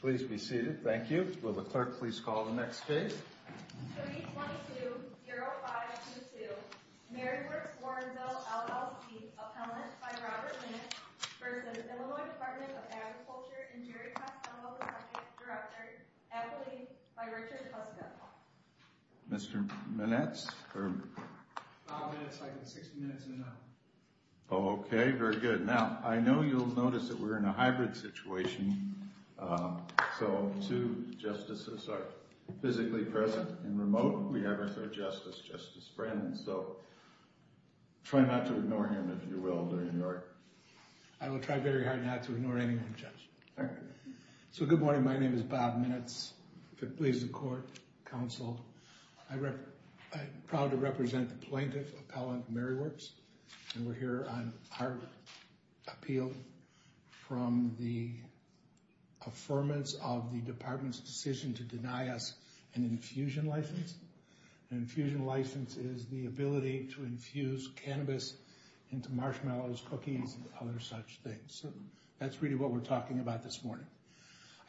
Please be seated. Thank you. Will the clerk please call the next case? 2220522 MaryWorks Warrenville, LLC, appellant by Robert Minitz, v. Illinois Department of Agriculture and Jerry Costello, Director, Adelaide, by Richard Huska. Mr. Minitz? Minitz, I have 60 minutes and a minute. Okay, very good. Now, I know you'll notice that we're in a hybrid situation, so two justices are physically present and remote. We have our third justice, Justice Brennan, so try not to ignore him, if you will, during your... I will try very hard not to ignore anyone, Judge. Thank you. So, good morning. My name is Bob Minitz. If it pleases the court, counsel, I'm proud to represent the plaintiff, appellant MaryWorks, and we're here on our appeal from the affirmance of the department's decision to deny us an infusion license. An infusion license is the ability to infuse cannabis into marshmallows, cookies, and other such things. That's really what we're talking about this morning.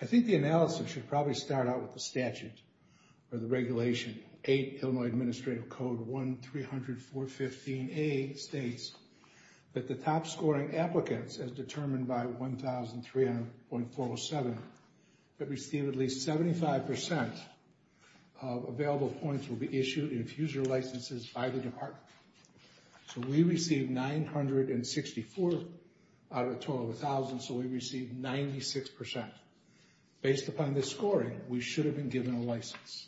I think the analysis should probably start out with the statute or the regulation. Eight, Illinois Administrative Code 1-300-415-A states that the top-scoring applicants, as determined by 1,300.407, that receive at least 75% of available points will be issued infuser licenses by the department. So we received 964 out of 12,000, so we received 96%. Based upon this scoring, we should have been given a license.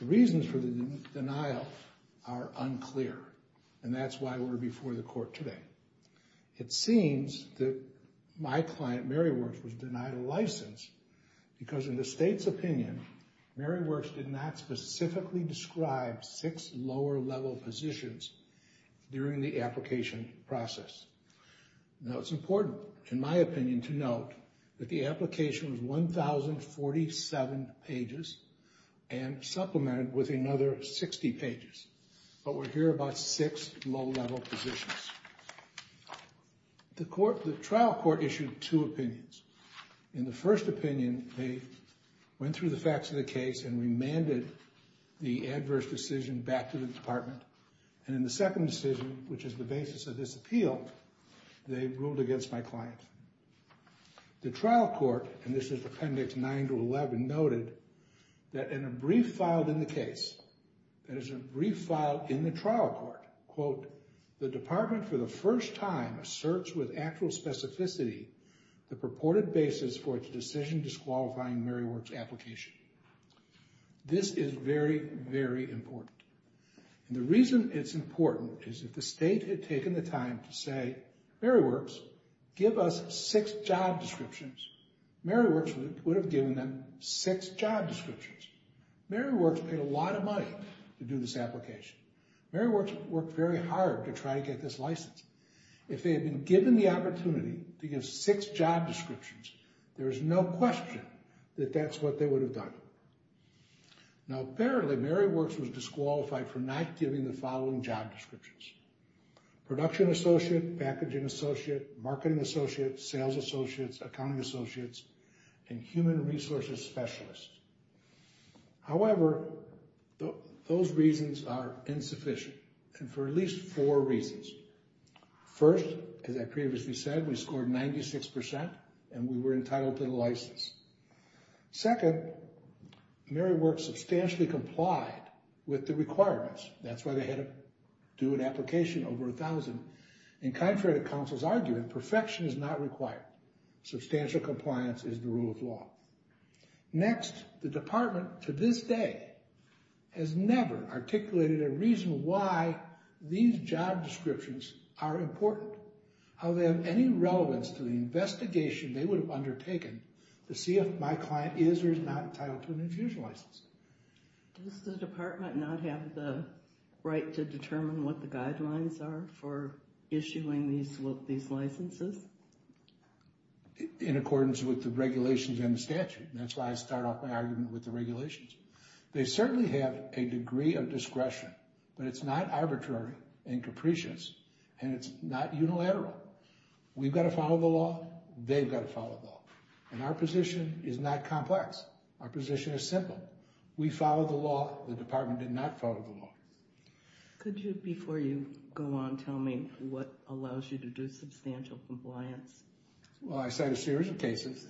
The reasons for the denial are unclear, and that's why we're before the court today. It seems that my client, MaryWorks, was denied a license because, in the state's opinion, MaryWorks did not specifically describe six lower-level positions during the application process. Now, it's important, in my opinion, to note that the application was 1,047 pages and supplemented with another 60 pages. But we're here about six low-level positions. The trial court issued two opinions. In the first opinion, they went through the facts of the case and remanded the adverse decision back to the department. And in the second decision, which is the basis of this appeal, they ruled against my client. The trial court, and this is Appendix 9-11, noted that in a brief filed in the case, that is, a brief filed in the trial court, quote, the department, for the first time, asserts with actual specificity the purported basis for its decision disqualifying MaryWorks' application. This is very, very important. And the reason it's important is if the state had taken the time to say, MaryWorks, give us six job descriptions, MaryWorks would have given them six job descriptions. MaryWorks paid a lot of money to do this application. MaryWorks worked very hard to try to get this license. If they had been given the opportunity to give six job descriptions, there is no question that that's what they would have done. Now, apparently, MaryWorks was disqualified for not giving the following job descriptions. Production Associate, Packaging Associate, Marketing Associate, Sales Associates, Accounting Associates, and Human Resources Specialist. However, those reasons are insufficient, and for at least four reasons. First, as I previously said, we scored 96%, and we were entitled to the license. Second, MaryWorks substantially complied with the requirements. That's why they had to do an application over 1,000. And contrary to counsel's argument, perfection is not required. Substantial compliance is the rule of law. Next, the department, to this day, has never articulated a reason why these job descriptions are important. However, any relevance to the investigation they would have undertaken to see if my client is or is not entitled to an infusion license. Does the department not have the right to determine what the guidelines are for issuing these licenses? In accordance with the regulations and the statute. That's why I start off my argument with the regulations. They certainly have a degree of discretion, but it's not arbitrary and capricious, and it's not unilateral. We've got to follow the law. They've got to follow the law. And our position is not complex. Our position is simple. We follow the law. The department did not follow the law. Could you, before you go on, tell me what allows you to do substantial compliance? Well, I cite a series of cases.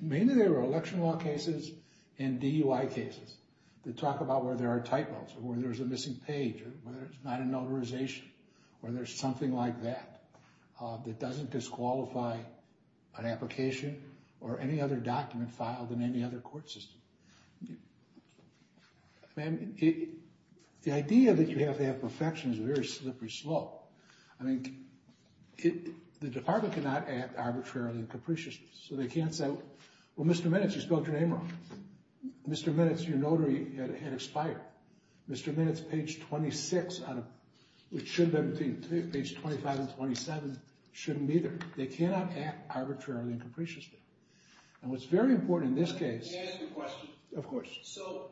Mainly they were election law cases and DUI cases that talk about where there are typos, or where there's a missing page, or whether it's not a notarization, or there's something like that that doesn't disqualify an application or any other document filed in any other court system. The idea that you have to have perfection is a very slippery slope. I mean, the department cannot act arbitrarily and capriciously. So they can't say, well, Mr. Minutes, you spelled your name wrong. Mr. Minutes, your notary had expired. Mr. Minutes, page 26, which should have been between page 25 and 27, shouldn't be there. They cannot act arbitrarily and capriciously. And what's very important in this case... Can I ask a question? Of course. So,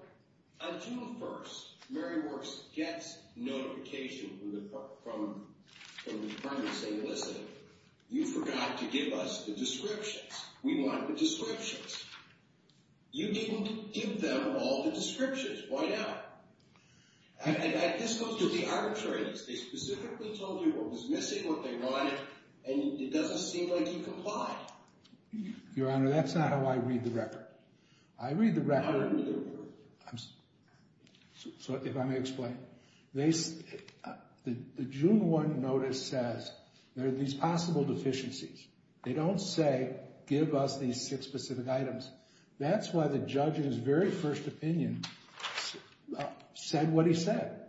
on June 1st, Mary Worst gets notification from the department saying, listen, you forgot to give us the descriptions. We want the descriptions. You didn't give them all the descriptions. Why now? And this goes to the arbitrariness. They specifically told you what was missing, what they wanted, and it doesn't seem like you complied. Your Honor, that's not how I read the record. I read the record... How do you read the record? If I may explain. The June 1 notice says there are these possible deficiencies. They don't say, give us these six specific items. That's why the judge, in his very first opinion, said what he said,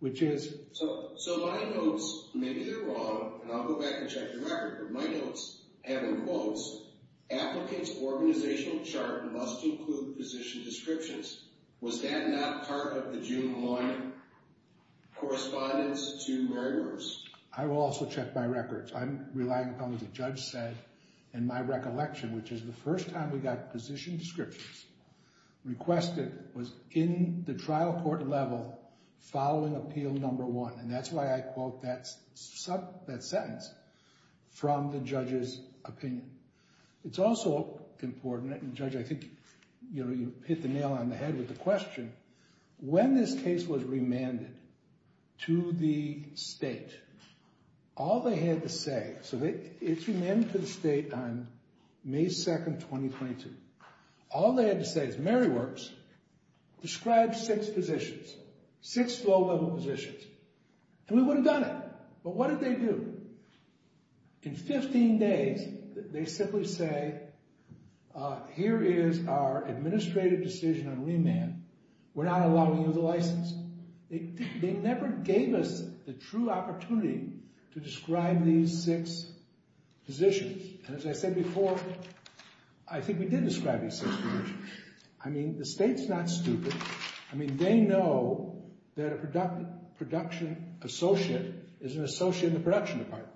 which is... So my notes, maybe they're wrong, and I'll go back and check the record. My notes have in quotes, applicant's organizational chart must include position descriptions. Was that not part of the June 1 correspondence to Mary Worst? I will also check my records. I'm relying upon what the judge said. And my recollection, which is the first time we got position descriptions requested, was in the trial court level following Appeal No. 1. And that's why I quote that sentence from the judge's opinion. It's also important, and Judge, I think you hit the nail on the head with the question. When this case was remanded to the state, all they had to say... So it's remanded to the state on May 2, 2022. All they had to say is, Mary Worst, describe six positions, six low-level positions. And we would have done it. But what did they do? In 15 days, they simply say, here is our administrative decision on remand. We're not allowing you the license. They never gave us the true opportunity to describe these six positions. And as I said before, I think we did describe these six positions. I mean, the state's not stupid. I mean, they know that a production associate is an associate in the production department.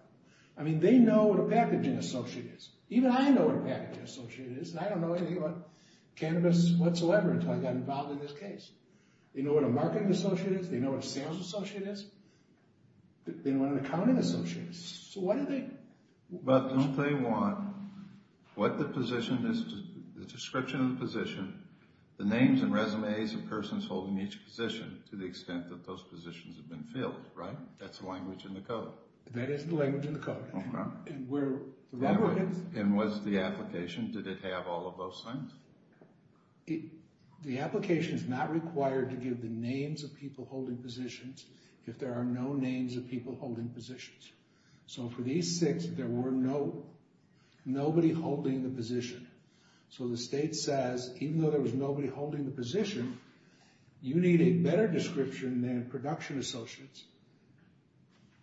I mean, they know what a packaging associate is. Even I know what a packaging associate is. And I don't know anything about cannabis whatsoever until I got involved in this case. They know what a marketing associate is. They know what a sales associate is. They know what an accounting associate is. So what do they... But don't they want what the position is, the description of the position, the names and resumes of persons holding each position, to the extent that those positions have been filled, right? That's the language in the code. That is the language in the code. And was the application, did it have all of those things? The application is not required to give the names of people holding positions if there are no names of people holding positions. So for these six, there were nobody holding the position. So the state says, even though there was nobody holding the position, you need a better description than production associates,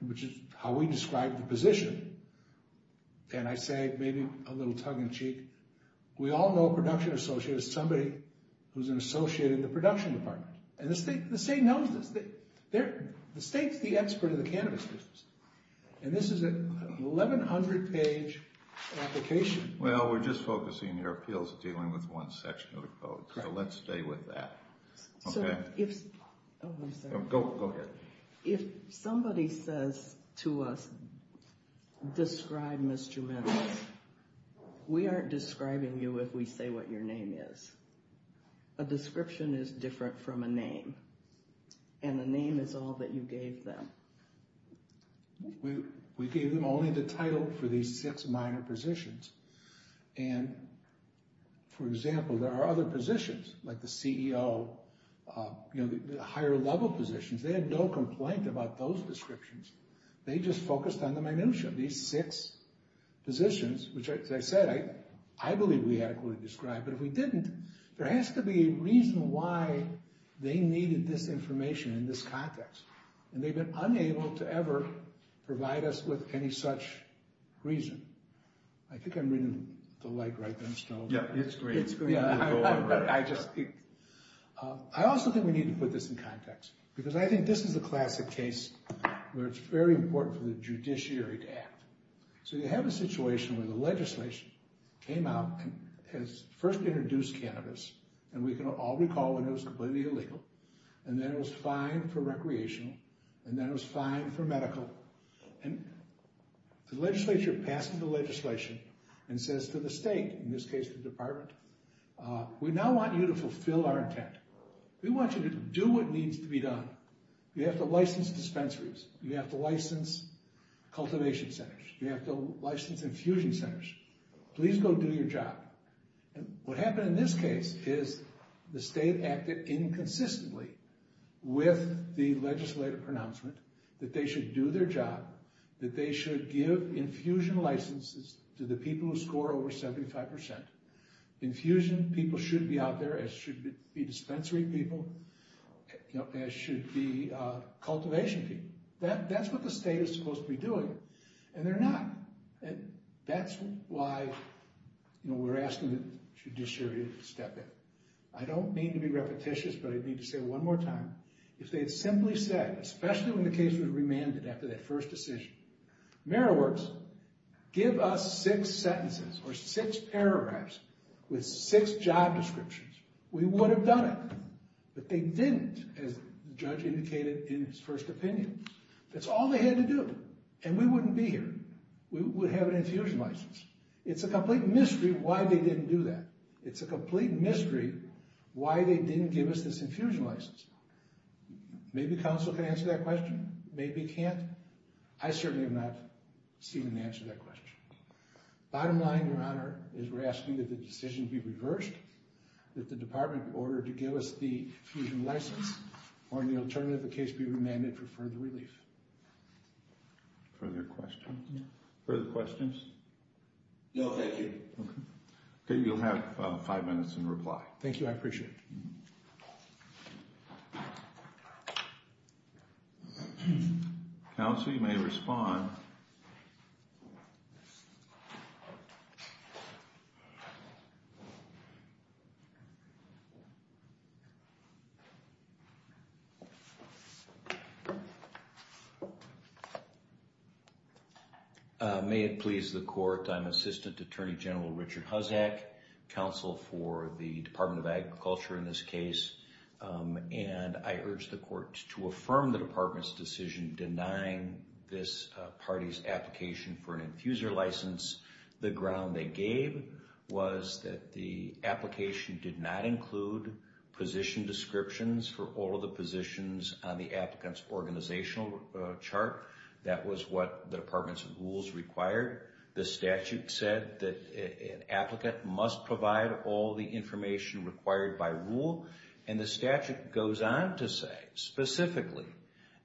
which is how we describe the position. And I say, maybe a little tug-of-the-cheek, we all know a production associate is somebody who's an associate in the production department. And the state knows this. The state's the expert of the cannabis business. And this is an 1100-page application. Well, we're just focusing your appeals dealing with one section of the code. So let's stay with that. So if... Oh, I'm sorry. Go ahead. If somebody says to us, describe Mr. Mendez, we aren't describing you if we say what your name is. A description is different from a name. And the name is all that you gave them. We gave them only the title for these six minor positions. And, for example, there are other positions, like the CEO, you know, the higher-level positions. They had no complaint about those descriptions. They just focused on the minutiae. These six positions, which, as I said, I believe we adequately described. But if we didn't, there has to be a reason why they needed this information in this context. And they've been unable to ever provide us with any such reason. I think I'm reading the light right now. Yeah, it's great. It's great. I just... I also think we need to put this in context. Because I think this is a classic case where it's very important for the judiciary to act. So you have a situation where the legislation came out has first introduced cannabis. And we can all recall when it was completely illegal. And then it was fine for recreational. And then it was fine for medical. And the legislature passes the legislation and says to the state, in this case the department, we now want you to fulfill our intent. We want you to do what needs to be done. You have to license dispensaries. You have to license cultivation centers. You have to license infusion centers. Please go do your job. What happened in this case is the state acted inconsistently with the legislative pronouncement that they should do their job, that they should give infusion licenses to the people who score over 75%. Infusion people should be out there as should be dispensary people, as should be cultivation people. That's what the state is supposed to be doing. And they're not. That's why we're asking the judiciary to step in. I don't mean to be repetitious, but I need to say one more time. If they had simply said, especially when the case was remanded after that first decision, Mayor Works, give us six sentences or six paragraphs with six job descriptions, we would have done it. But they didn't, as the judge indicated in his first opinion. That's all they had to do. And we wouldn't be here. We would have an infusion license. It's a complete mystery why they didn't do that. It's a complete mystery why they didn't give us this infusion license. Maybe counsel can answer that question. Maybe he can't. I certainly have not seen an answer to that question. Bottom line, Your Honor, is we're asking that the decision be reversed, that the department order to give us the infusion license, or the alternative case be remanded for further relief. Further questions? Further questions? No, thank you. Okay, you'll have five minutes in reply. Thank you, I appreciate it. Counsel, you may respond. Thank you. May it please the court, I'm Assistant Attorney General Richard Huzak, counsel for the Department of Agriculture in this case. And I urge the court to affirm the department's decision denying this party's application for an infuser license. The ground they gave was that the application did not include position descriptions for all of the positions on the applicant's organizational chart. That was what the department's rules required. The statute said that an applicant must provide all the information required by rule. And the statute goes on to say, specifically,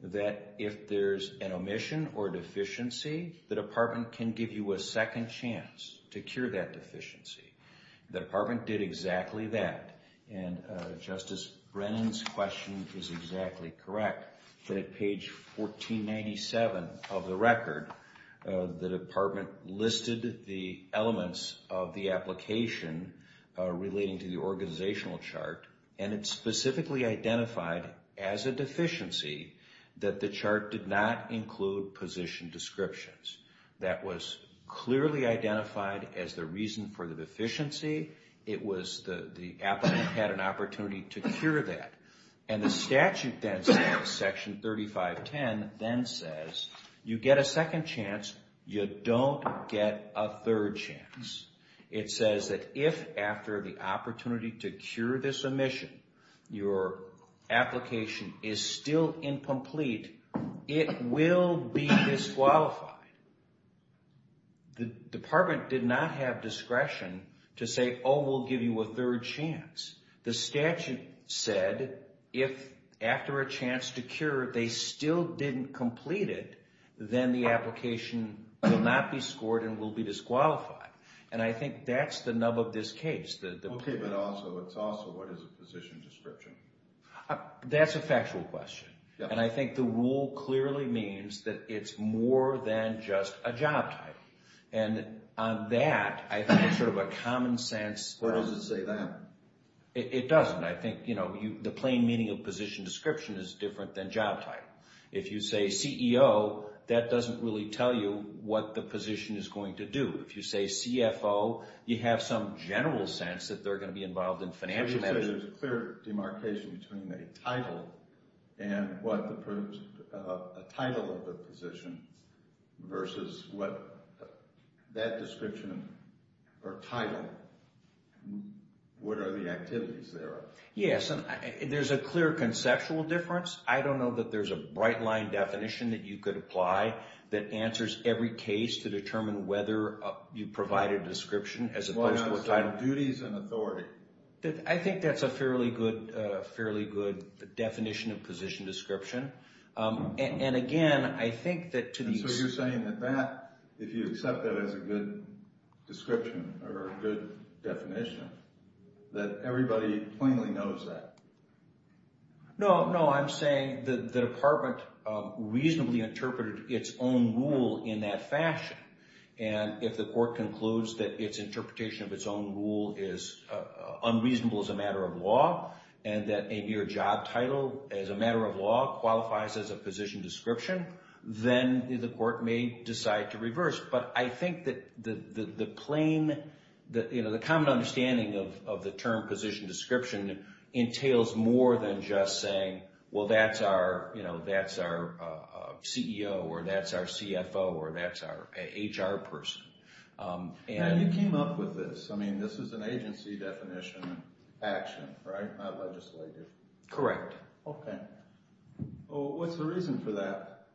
that if there's an omission or deficiency, the department can give you a second chance to cure that deficiency. The department did exactly that. And Justice Brennan's question is exactly correct. That at page 1497 of the record, the department listed the elements of the application relating to the organizational chart. And it specifically identified as a deficiency that the chart did not include position descriptions. That was clearly identified as the reason for the deficiency. It was the applicant had an opportunity to cure that. And the statute then says, section 3510, then says, you get a second chance, you don't get a third chance. It says that if after the opportunity to cure this omission, your application is still incomplete, it will be disqualified. The department did not have discretion to say, oh, we'll give you a third chance. The statute said, if after a chance to cure, they still didn't complete it, then the application will not be scored and will be disqualified. And I think that's the nub of this case. But also, what is a position description? That's a factual question. And I think the rule clearly means that it's more than just a job title. And on that, I think it's sort of a common sense... Or does it say that? It doesn't. I think the plain meaning of position description is different than job title. If you say CEO, that doesn't really tell you what the position is going to do. If you say CFO, you have some general sense that they're going to be involved in financial management. So you're saying there's a clear demarcation between a title and what the title of the position versus what that description or title, what are the activities there? Yes, and there's a clear conceptual difference. I don't know that there's a bright line definition that you could apply that you provide a description as opposed to a title. Well, no, it's duties and authority. I think that's a fairly good definition of position description. And again, I think that to the... So you're saying that if you accept that as a good description or a good definition, that everybody plainly knows that? No, I'm saying the department reasonably interpreted its own rule in that fashion. And if the court concludes that its interpretation of its own rule is unreasonable as a matter of law and that a mere job title as a matter of law qualifies as a position description, then the court may decide to reverse. But I think that the plain... The common understanding of the term position description entails more than just saying, well, that's our CEO or that's our CFO or that's our HR person. And you came up with this. I mean, this is an agency definition action, right? Not legislative. Correct. Okay. Well, what's the reason for that?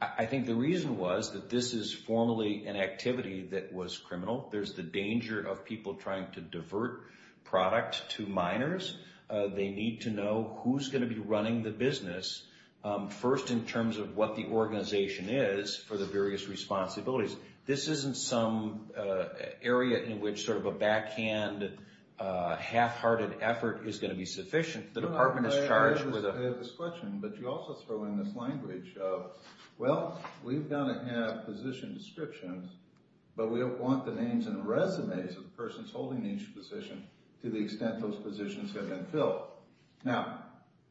I think the reason was that this is formally an activity that was criminal. There's the danger of people trying to divert product to minors. They need to know who's going to be running the business first in terms of what the organization is for the various responsibilities. This isn't some area in which sort of a backhand, half-hearted effort is going to be sufficient. The department is charged with a... I have this question, but you also throw in this language of, well, we've got to have position descriptions, but we don't want the names and the resumes of the persons holding each position to the extent those positions have been filled. Now,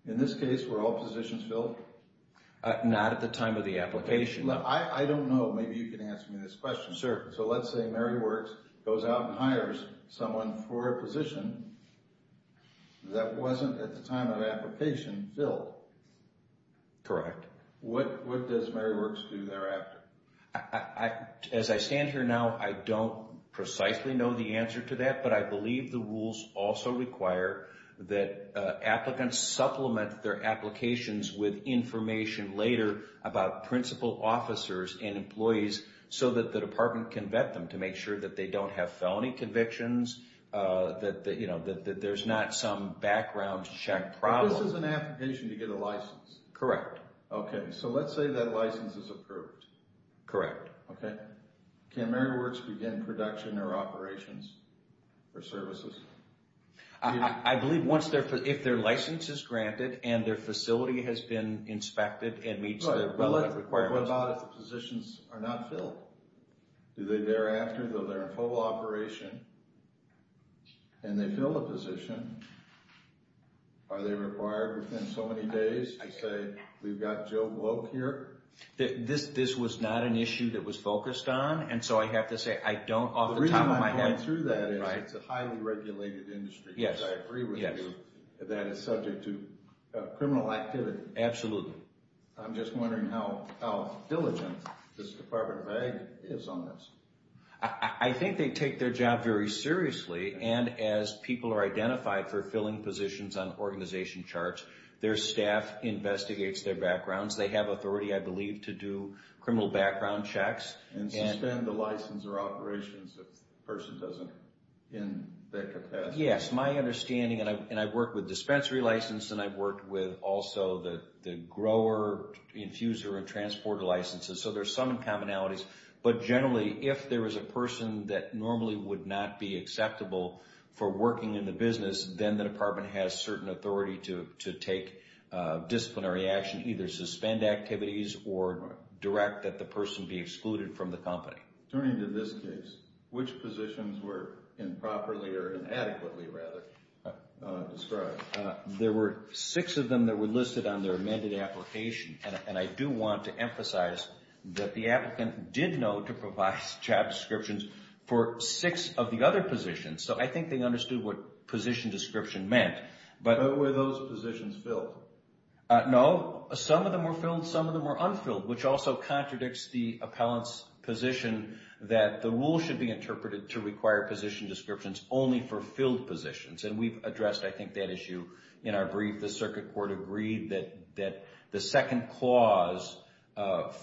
in this case, were all positions filled? Not at the time of the application. I don't know. Maybe you can answer me this question. Sure. So let's say Mary Works goes out and hires someone for a position that wasn't at the time of the application filled. Correct. What does Mary Works do thereafter? As I stand here now, I don't precisely know the answer to that, but I believe the rules also require that applicants supplement their applications with information later about principal officers and employees so that the department can vet them to make sure that they don't have felony convictions, that there's not some background check problem. This is an application to get a license? Correct. Okay. So let's say that license is approved. Correct. Okay. Can Mary Works begin production or operations or services? I believe if their license is granted and their facility has been inspected and meets the requirements. What about if the positions are not filled? Do they thereafter, though they're in full operation, and they fill the position, are they required within so many days to say, we've got Joe Bloch here? This was not an issue that was focused on, and so I have to say I don't off the top of my head. The reason I'm going through that is it's a highly regulated industry. Yes. I agree with you that it's subject to criminal activity. Absolutely. I'm just wondering how diligent this Department of Ag is on this. I think they take their job very seriously, and as people are identified for filling positions on organization charts, their staff investigates their backgrounds. They have authority, I believe, to do criminal background checks. And suspend the license or operations if the person isn't in that capacity. Yes. My understanding, and I've worked with dispensary license, and I've worked with also the grower, infuser, and transporter licenses, so there's some commonalities. But generally, if there is a person that normally would not be acceptable for working in the company, they have a certain authority to take disciplinary action, either suspend activities or direct that the person be excluded from the company. Turning to this case, which positions were improperly or inadequately described? There were six of them that were listed on their amended application, and I do want to emphasize that the applicant did know to provide job descriptions for six of the other positions. So I think they understood what position description meant. But were those positions filled? No. Some of them were filled, some of them were unfilled, which also contradicts the appellant's position that the rule should be interpreted to require position descriptions only for filled positions. And we've addressed, I think, that issue in our brief. The circuit court agreed that the second clause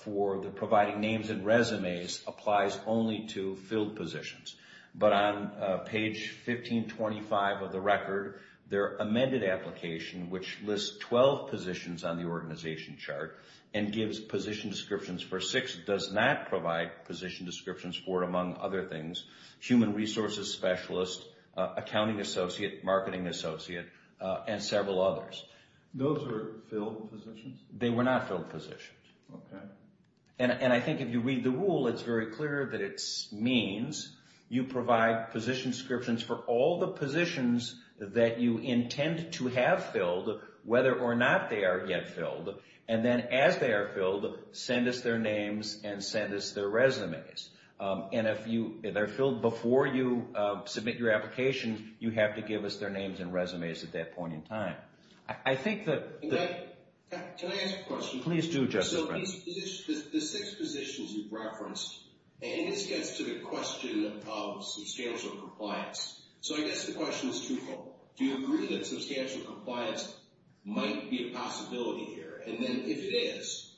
for the providing names and resumes applies only to filled positions. But on page 1525 of the record, their amended application, which lists 12 positions on the organization chart and gives position descriptions for six, does not provide position descriptions for, among other things, human resources specialist, accounting associate, marketing associate, and several others. Those were filled positions? They were not filled positions. Okay. And I think if you read the rule, it's very clear that it means you provide position descriptions for all the positions that you intend to have filled, whether or not they are yet filled, and then as they are filled, send us their names and send us their resumes. And if they're filled before you submit your application, you have to give us their names and resumes at that point in time. I think that... Can I ask a question? Please do, Justice Brent. So the six positions you've referenced, and this gets to the question of substantial compliance. So I guess the question is twofold. Do you agree that substantial compliance might be a possibility here? And then if it is,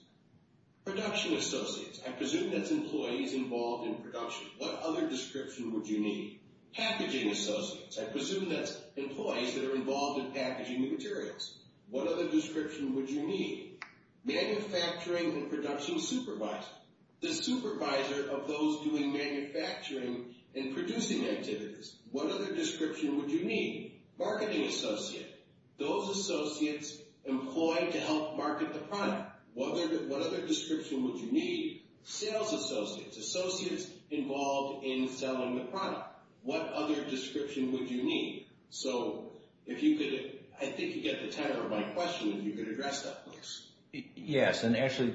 production associates, I presume that's employees involved in production. What other description would you need? Packaging associates, I presume that's employees that are involved in packaging the materials. What other description would you need? Manufacturing and production supervisor, the supervisor of those doing manufacturing and producing activities. What other description would you need? Marketing associate, those associates employed to help market the product. What other description would you need? Sales associates, associates involved in selling the product. What other description would you need? So if you could, I think you get the time for my question. If you could address that, please. Yes, and actually,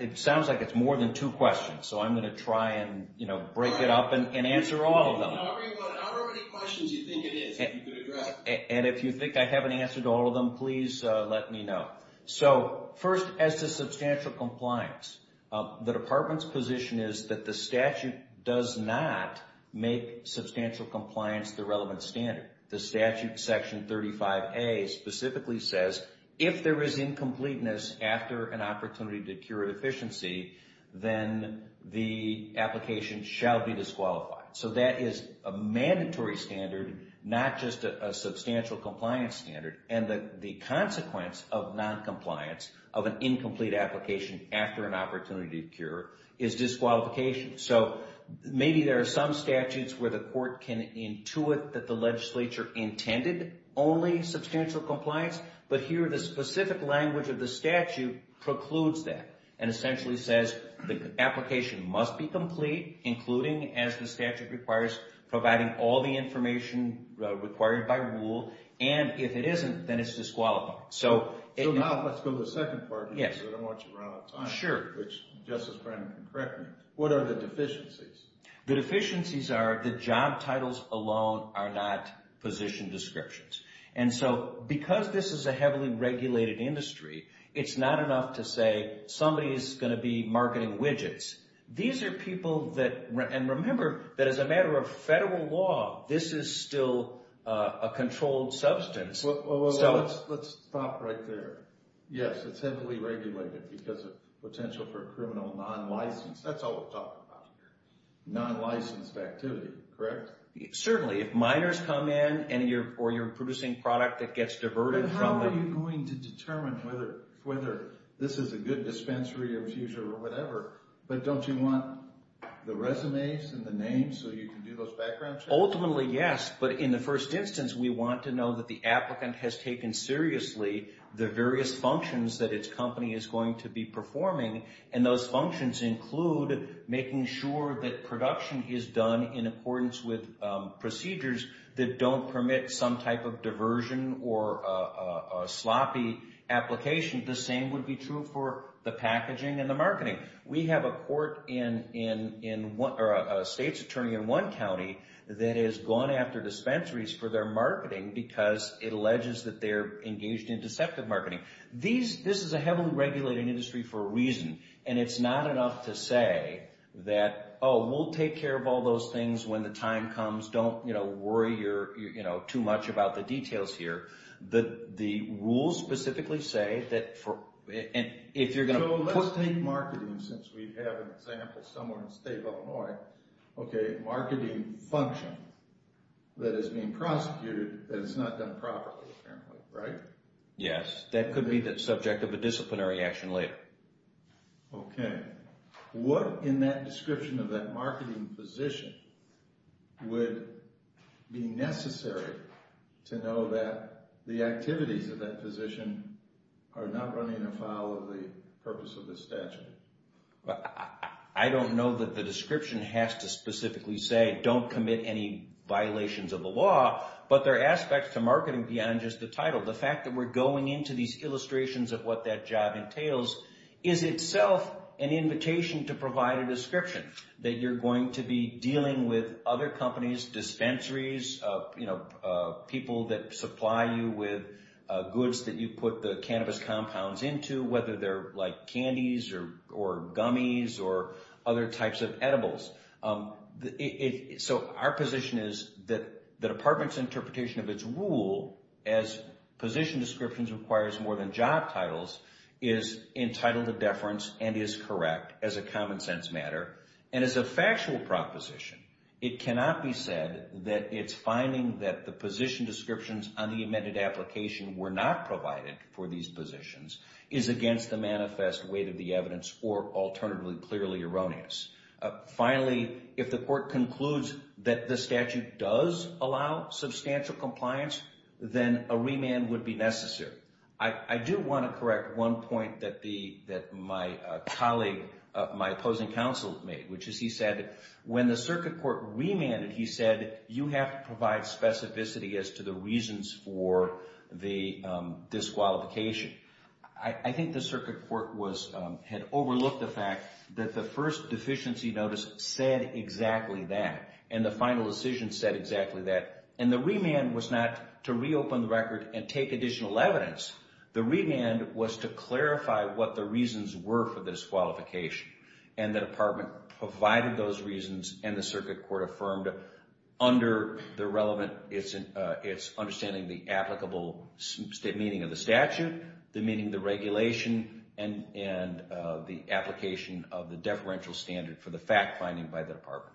it sounds like it's more than two questions. So I'm going to try and break it up and answer all of them. However many questions you think it is, if you could address. And if you think I haven't answered all of them, please let me know. So first, as to substantial compliance, the department's position is that the statute does not make substantial compliance the relevant standard. The statute, Section 35A, specifically says if there is incompleteness after an opportunity to cure efficiency, then the application shall be disqualified. So that is a mandatory standard, not just a substantial compliance standard. And the consequence of noncompliance, of an incomplete application after an opportunity to cure, is disqualification. So maybe there are some statutes where the court can intuit that the legislature intended only substantial compliance. But here, the specific language of the statute precludes that. And essentially says the application must be complete, including, as the statute requires, providing all the information required by rule. And if it isn't, then it's disqualified. So now let's go to the second part, because I don't want you to run out of time. Sure. Which, Justice Breyman, correct me, what are the deficiencies? The deficiencies are the job titles alone are not position descriptions. And so, because this is a heavily regulated industry, it's not enough to say somebody is going to be marketing widgets. These are people that, and remember, that as a matter of federal law, this is still a controlled substance. Let's stop right there. Yes, it's heavily regulated because of potential for criminal non-license. That's all we're talking about here. Non-licensed activity, correct? Certainly. If minors come in, or you're producing product that gets diverted from the... And how are you going to determine whether this is a good dispensary or fuser or whatever? But don't you want the resumes and the names so you can do those background checks? Ultimately, yes. But in the first instance, we want to know that the applicant has taken seriously the various functions that its company is going to be performing. And those functions include making sure that production is done in accordance with procedures that don't permit some type of diversion or sloppy application. The same would be true for the packaging and the marketing. We have a state's attorney in one county that has gone after dispensaries for their marketing because it alleges that they're engaged in deceptive marketing. This is a heavily regulated industry for a reason. And it's not enough to say that, oh, we'll take care of all those things when the time comes. Don't worry too much about the details here. The rules specifically say that if you're going to... So let's take marketing, since we have an example somewhere in the state of Illinois. Okay, marketing function that is being prosecuted, that it's not done properly, apparently, right? Yes, that could be the subject of a disciplinary action later. Okay. What in that description of that marketing position would be necessary to know that the activities of that position are not running afoul of the purpose of the statute? I don't know that the description has to specifically say don't commit any violations of the law, but there are aspects to marketing beyond just the title. The fact that we're going into these illustrations of what that job entails is itself an invitation to provide a description. That you're going to be dealing with other companies, dispensaries, people that supply you with goods that you put the cannabis compounds into, whether they're like candies or gummies or other types of edibles. So our position is that the department's interpretation of its rule as position descriptions requires more than job titles is entitled to deference and is correct as a common sense matter. And as a factual proposition, it cannot be said that it's finding that the position descriptions on the amended application were not provided for these positions is against the manifest weight of the evidence or alternatively clearly erroneous. Finally, if the court concludes that the statute does allow substantial compliance, then a remand would be necessary. I do want to correct one point that my colleague, my opposing counsel made, which is he said when the circuit court remanded, he said you have to provide specificity as to the reasons for the disqualification. I think the circuit court had overlooked the fact that the first deficiency notice said exactly that and the final decision said exactly that. And the remand was not to reopen the record and take additional evidence. The remand was to clarify what the reasons were for this qualification. And the department provided those reasons and the circuit court affirmed under the relevant, its understanding the applicable meaning of the statute, the meaning of the regulation, and the application of the deferential standard for the fact finding by the department.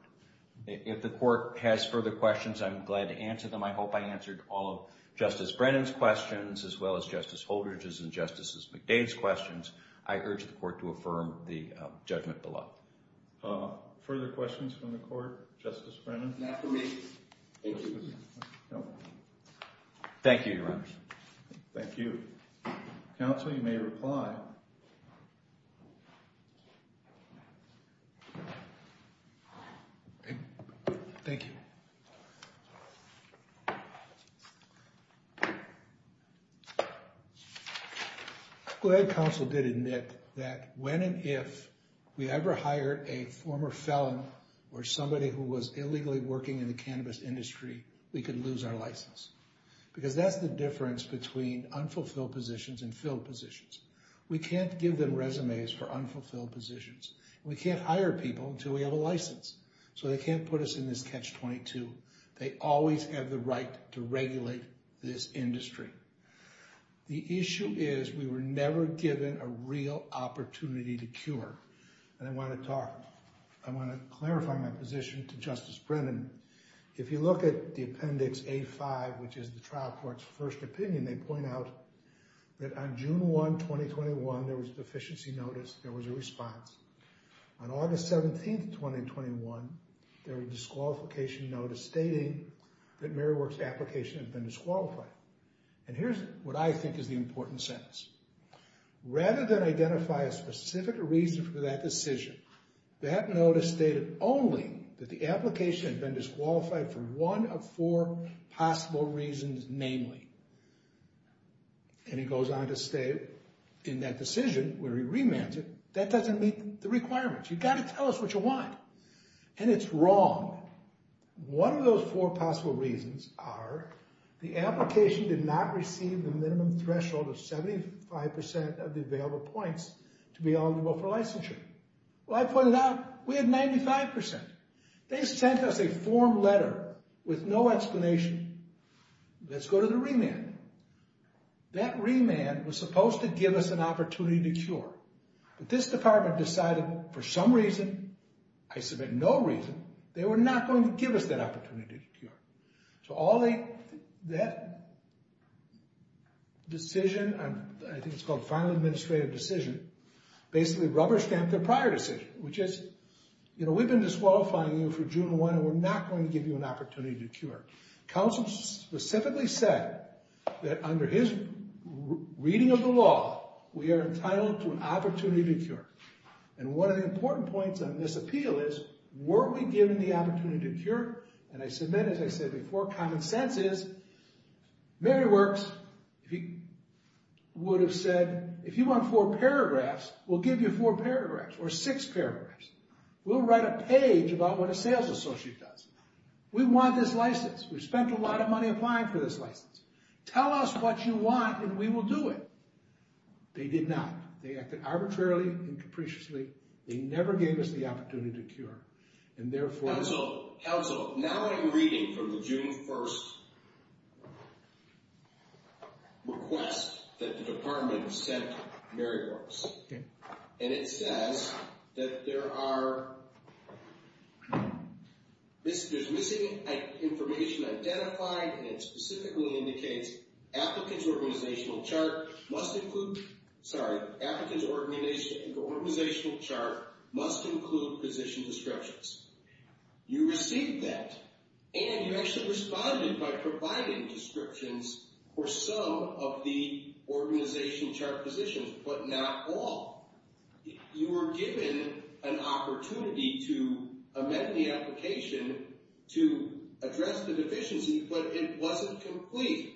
If the court has further questions, I'm glad to answer them. I hope I answered all of Justice Brennan's questions as well as Justice Holdridge's and Justice McDade's questions. I urge the court to affirm the judgment below. Further questions from the court? Justice Brennan? Not to me. Thank you. Thank you, Your Honor. Thank you. Counsel, you may reply. Thank you, Your Honor. Thank you. The issue is we were never given a real opportunity to cure. If you look at the appendix A5, which is the trial court's first opinion, they point out that on June 1, 2021, there was a deficiency notice, there was a response. On August 17, 2021, there was a disqualification notice stating that Mary Works' application had been disqualified. And here's what I think is the important sentence. Rather than identify a specific reason for that decision, that notice stated only that the application had been disqualified for one of four possible reasons, namely and it goes on to state in that decision where he remands it, that doesn't meet the requirements. You've got to tell us what you want, and it's wrong. One of those four possible reasons are the application did not receive the minimum threshold of 75% of the available points to be eligible for licensure. Well, I pointed out we had 95%. They sent us a form letter with no explanation. Let's go to the remand. That remand was supposed to give us an opportunity to cure. But this department decided for some reason, I submit no reason, they were not going to give us that opportunity to cure. So all they, that decision, I think it's called final administrative decision, basically rubber-stamped their prior decision, which is, you know, we've been disqualifying you for June 1, and we're not going to give you an opportunity to cure. Counsel specifically said that under his reading of the law, we are entitled to an opportunity to cure. And one of the important points on this appeal is, weren't we given the opportunity to cure? And I submit, as I said before, common sense is Mary Works, if he would have said, if you want four paragraphs, we'll give you four paragraphs or six paragraphs. We'll write a page about what a sales associate does. We want this license. We've spent a lot of money applying for this license. Tell us what you want, and we will do it. They did not. They acted arbitrarily and capriciously. They never gave us the opportunity to cure. Counsel, counsel, now I'm reading from the June 1 request that the department sent Mary Works. And it says that there are, there's missing information identified, and it specifically indicates applicants organizational chart must include, sorry, You received that, and you actually responded by providing descriptions for some of the organization chart positions, but not all. You were given an opportunity to amend the application to address the deficiency, but it wasn't complete.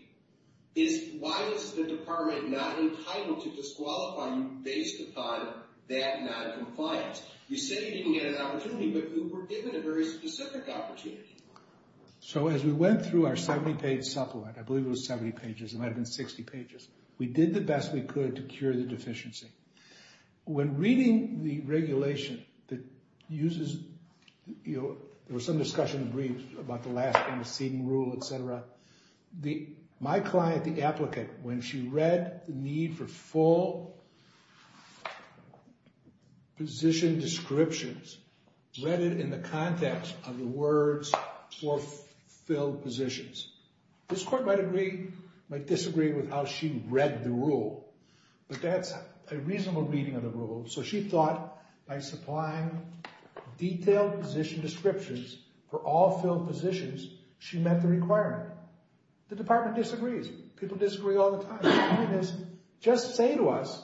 Why is the department not entitled to disqualify you based upon that noncompliance? You said you didn't get an opportunity, but you were given a very specific opportunity. So as we went through our 70-page supplement, I believe it was 70 pages. It might have been 60 pages. We did the best we could to cure the deficiency. When reading the regulation that uses, you know, there was some discussion in the brief about the last kind of seating rule, et cetera. My client, the applicant, when she read the need for full position descriptions, read it in the context of the words for filled positions. This court might agree, might disagree with how she read the rule, but that's a reasonable reading of the rule. So she thought by supplying detailed position descriptions for all filled positions, she met the requirement. The department disagrees. People disagree all the time. The point is, just say to us,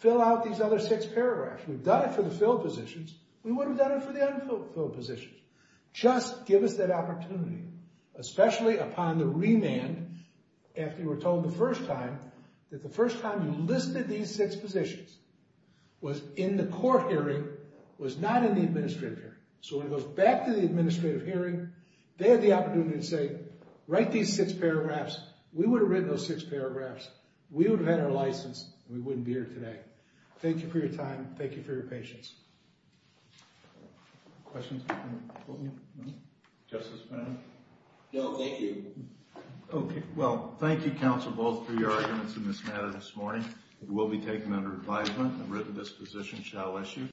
fill out these other six paragraphs. We've done it for the filled positions. We would have done it for the unfilled positions. Just give us that opportunity, especially upon the remand, after you were told the first time that the first time you listed these six positions was in the court hearing, was not in the administrative hearing. So when it goes back to the administrative hearing, they have the opportunity to say, write these six paragraphs. We would have written those six paragraphs. We would have had our license, and we wouldn't be here today. Thank you for your time. Thank you for your patience. Questions? Justice Fannin? No, thank you. Okay, well, thank you, counsel, both, for your arguments in this matter this morning. It will be taken under advisement, and the written disposition shall issue.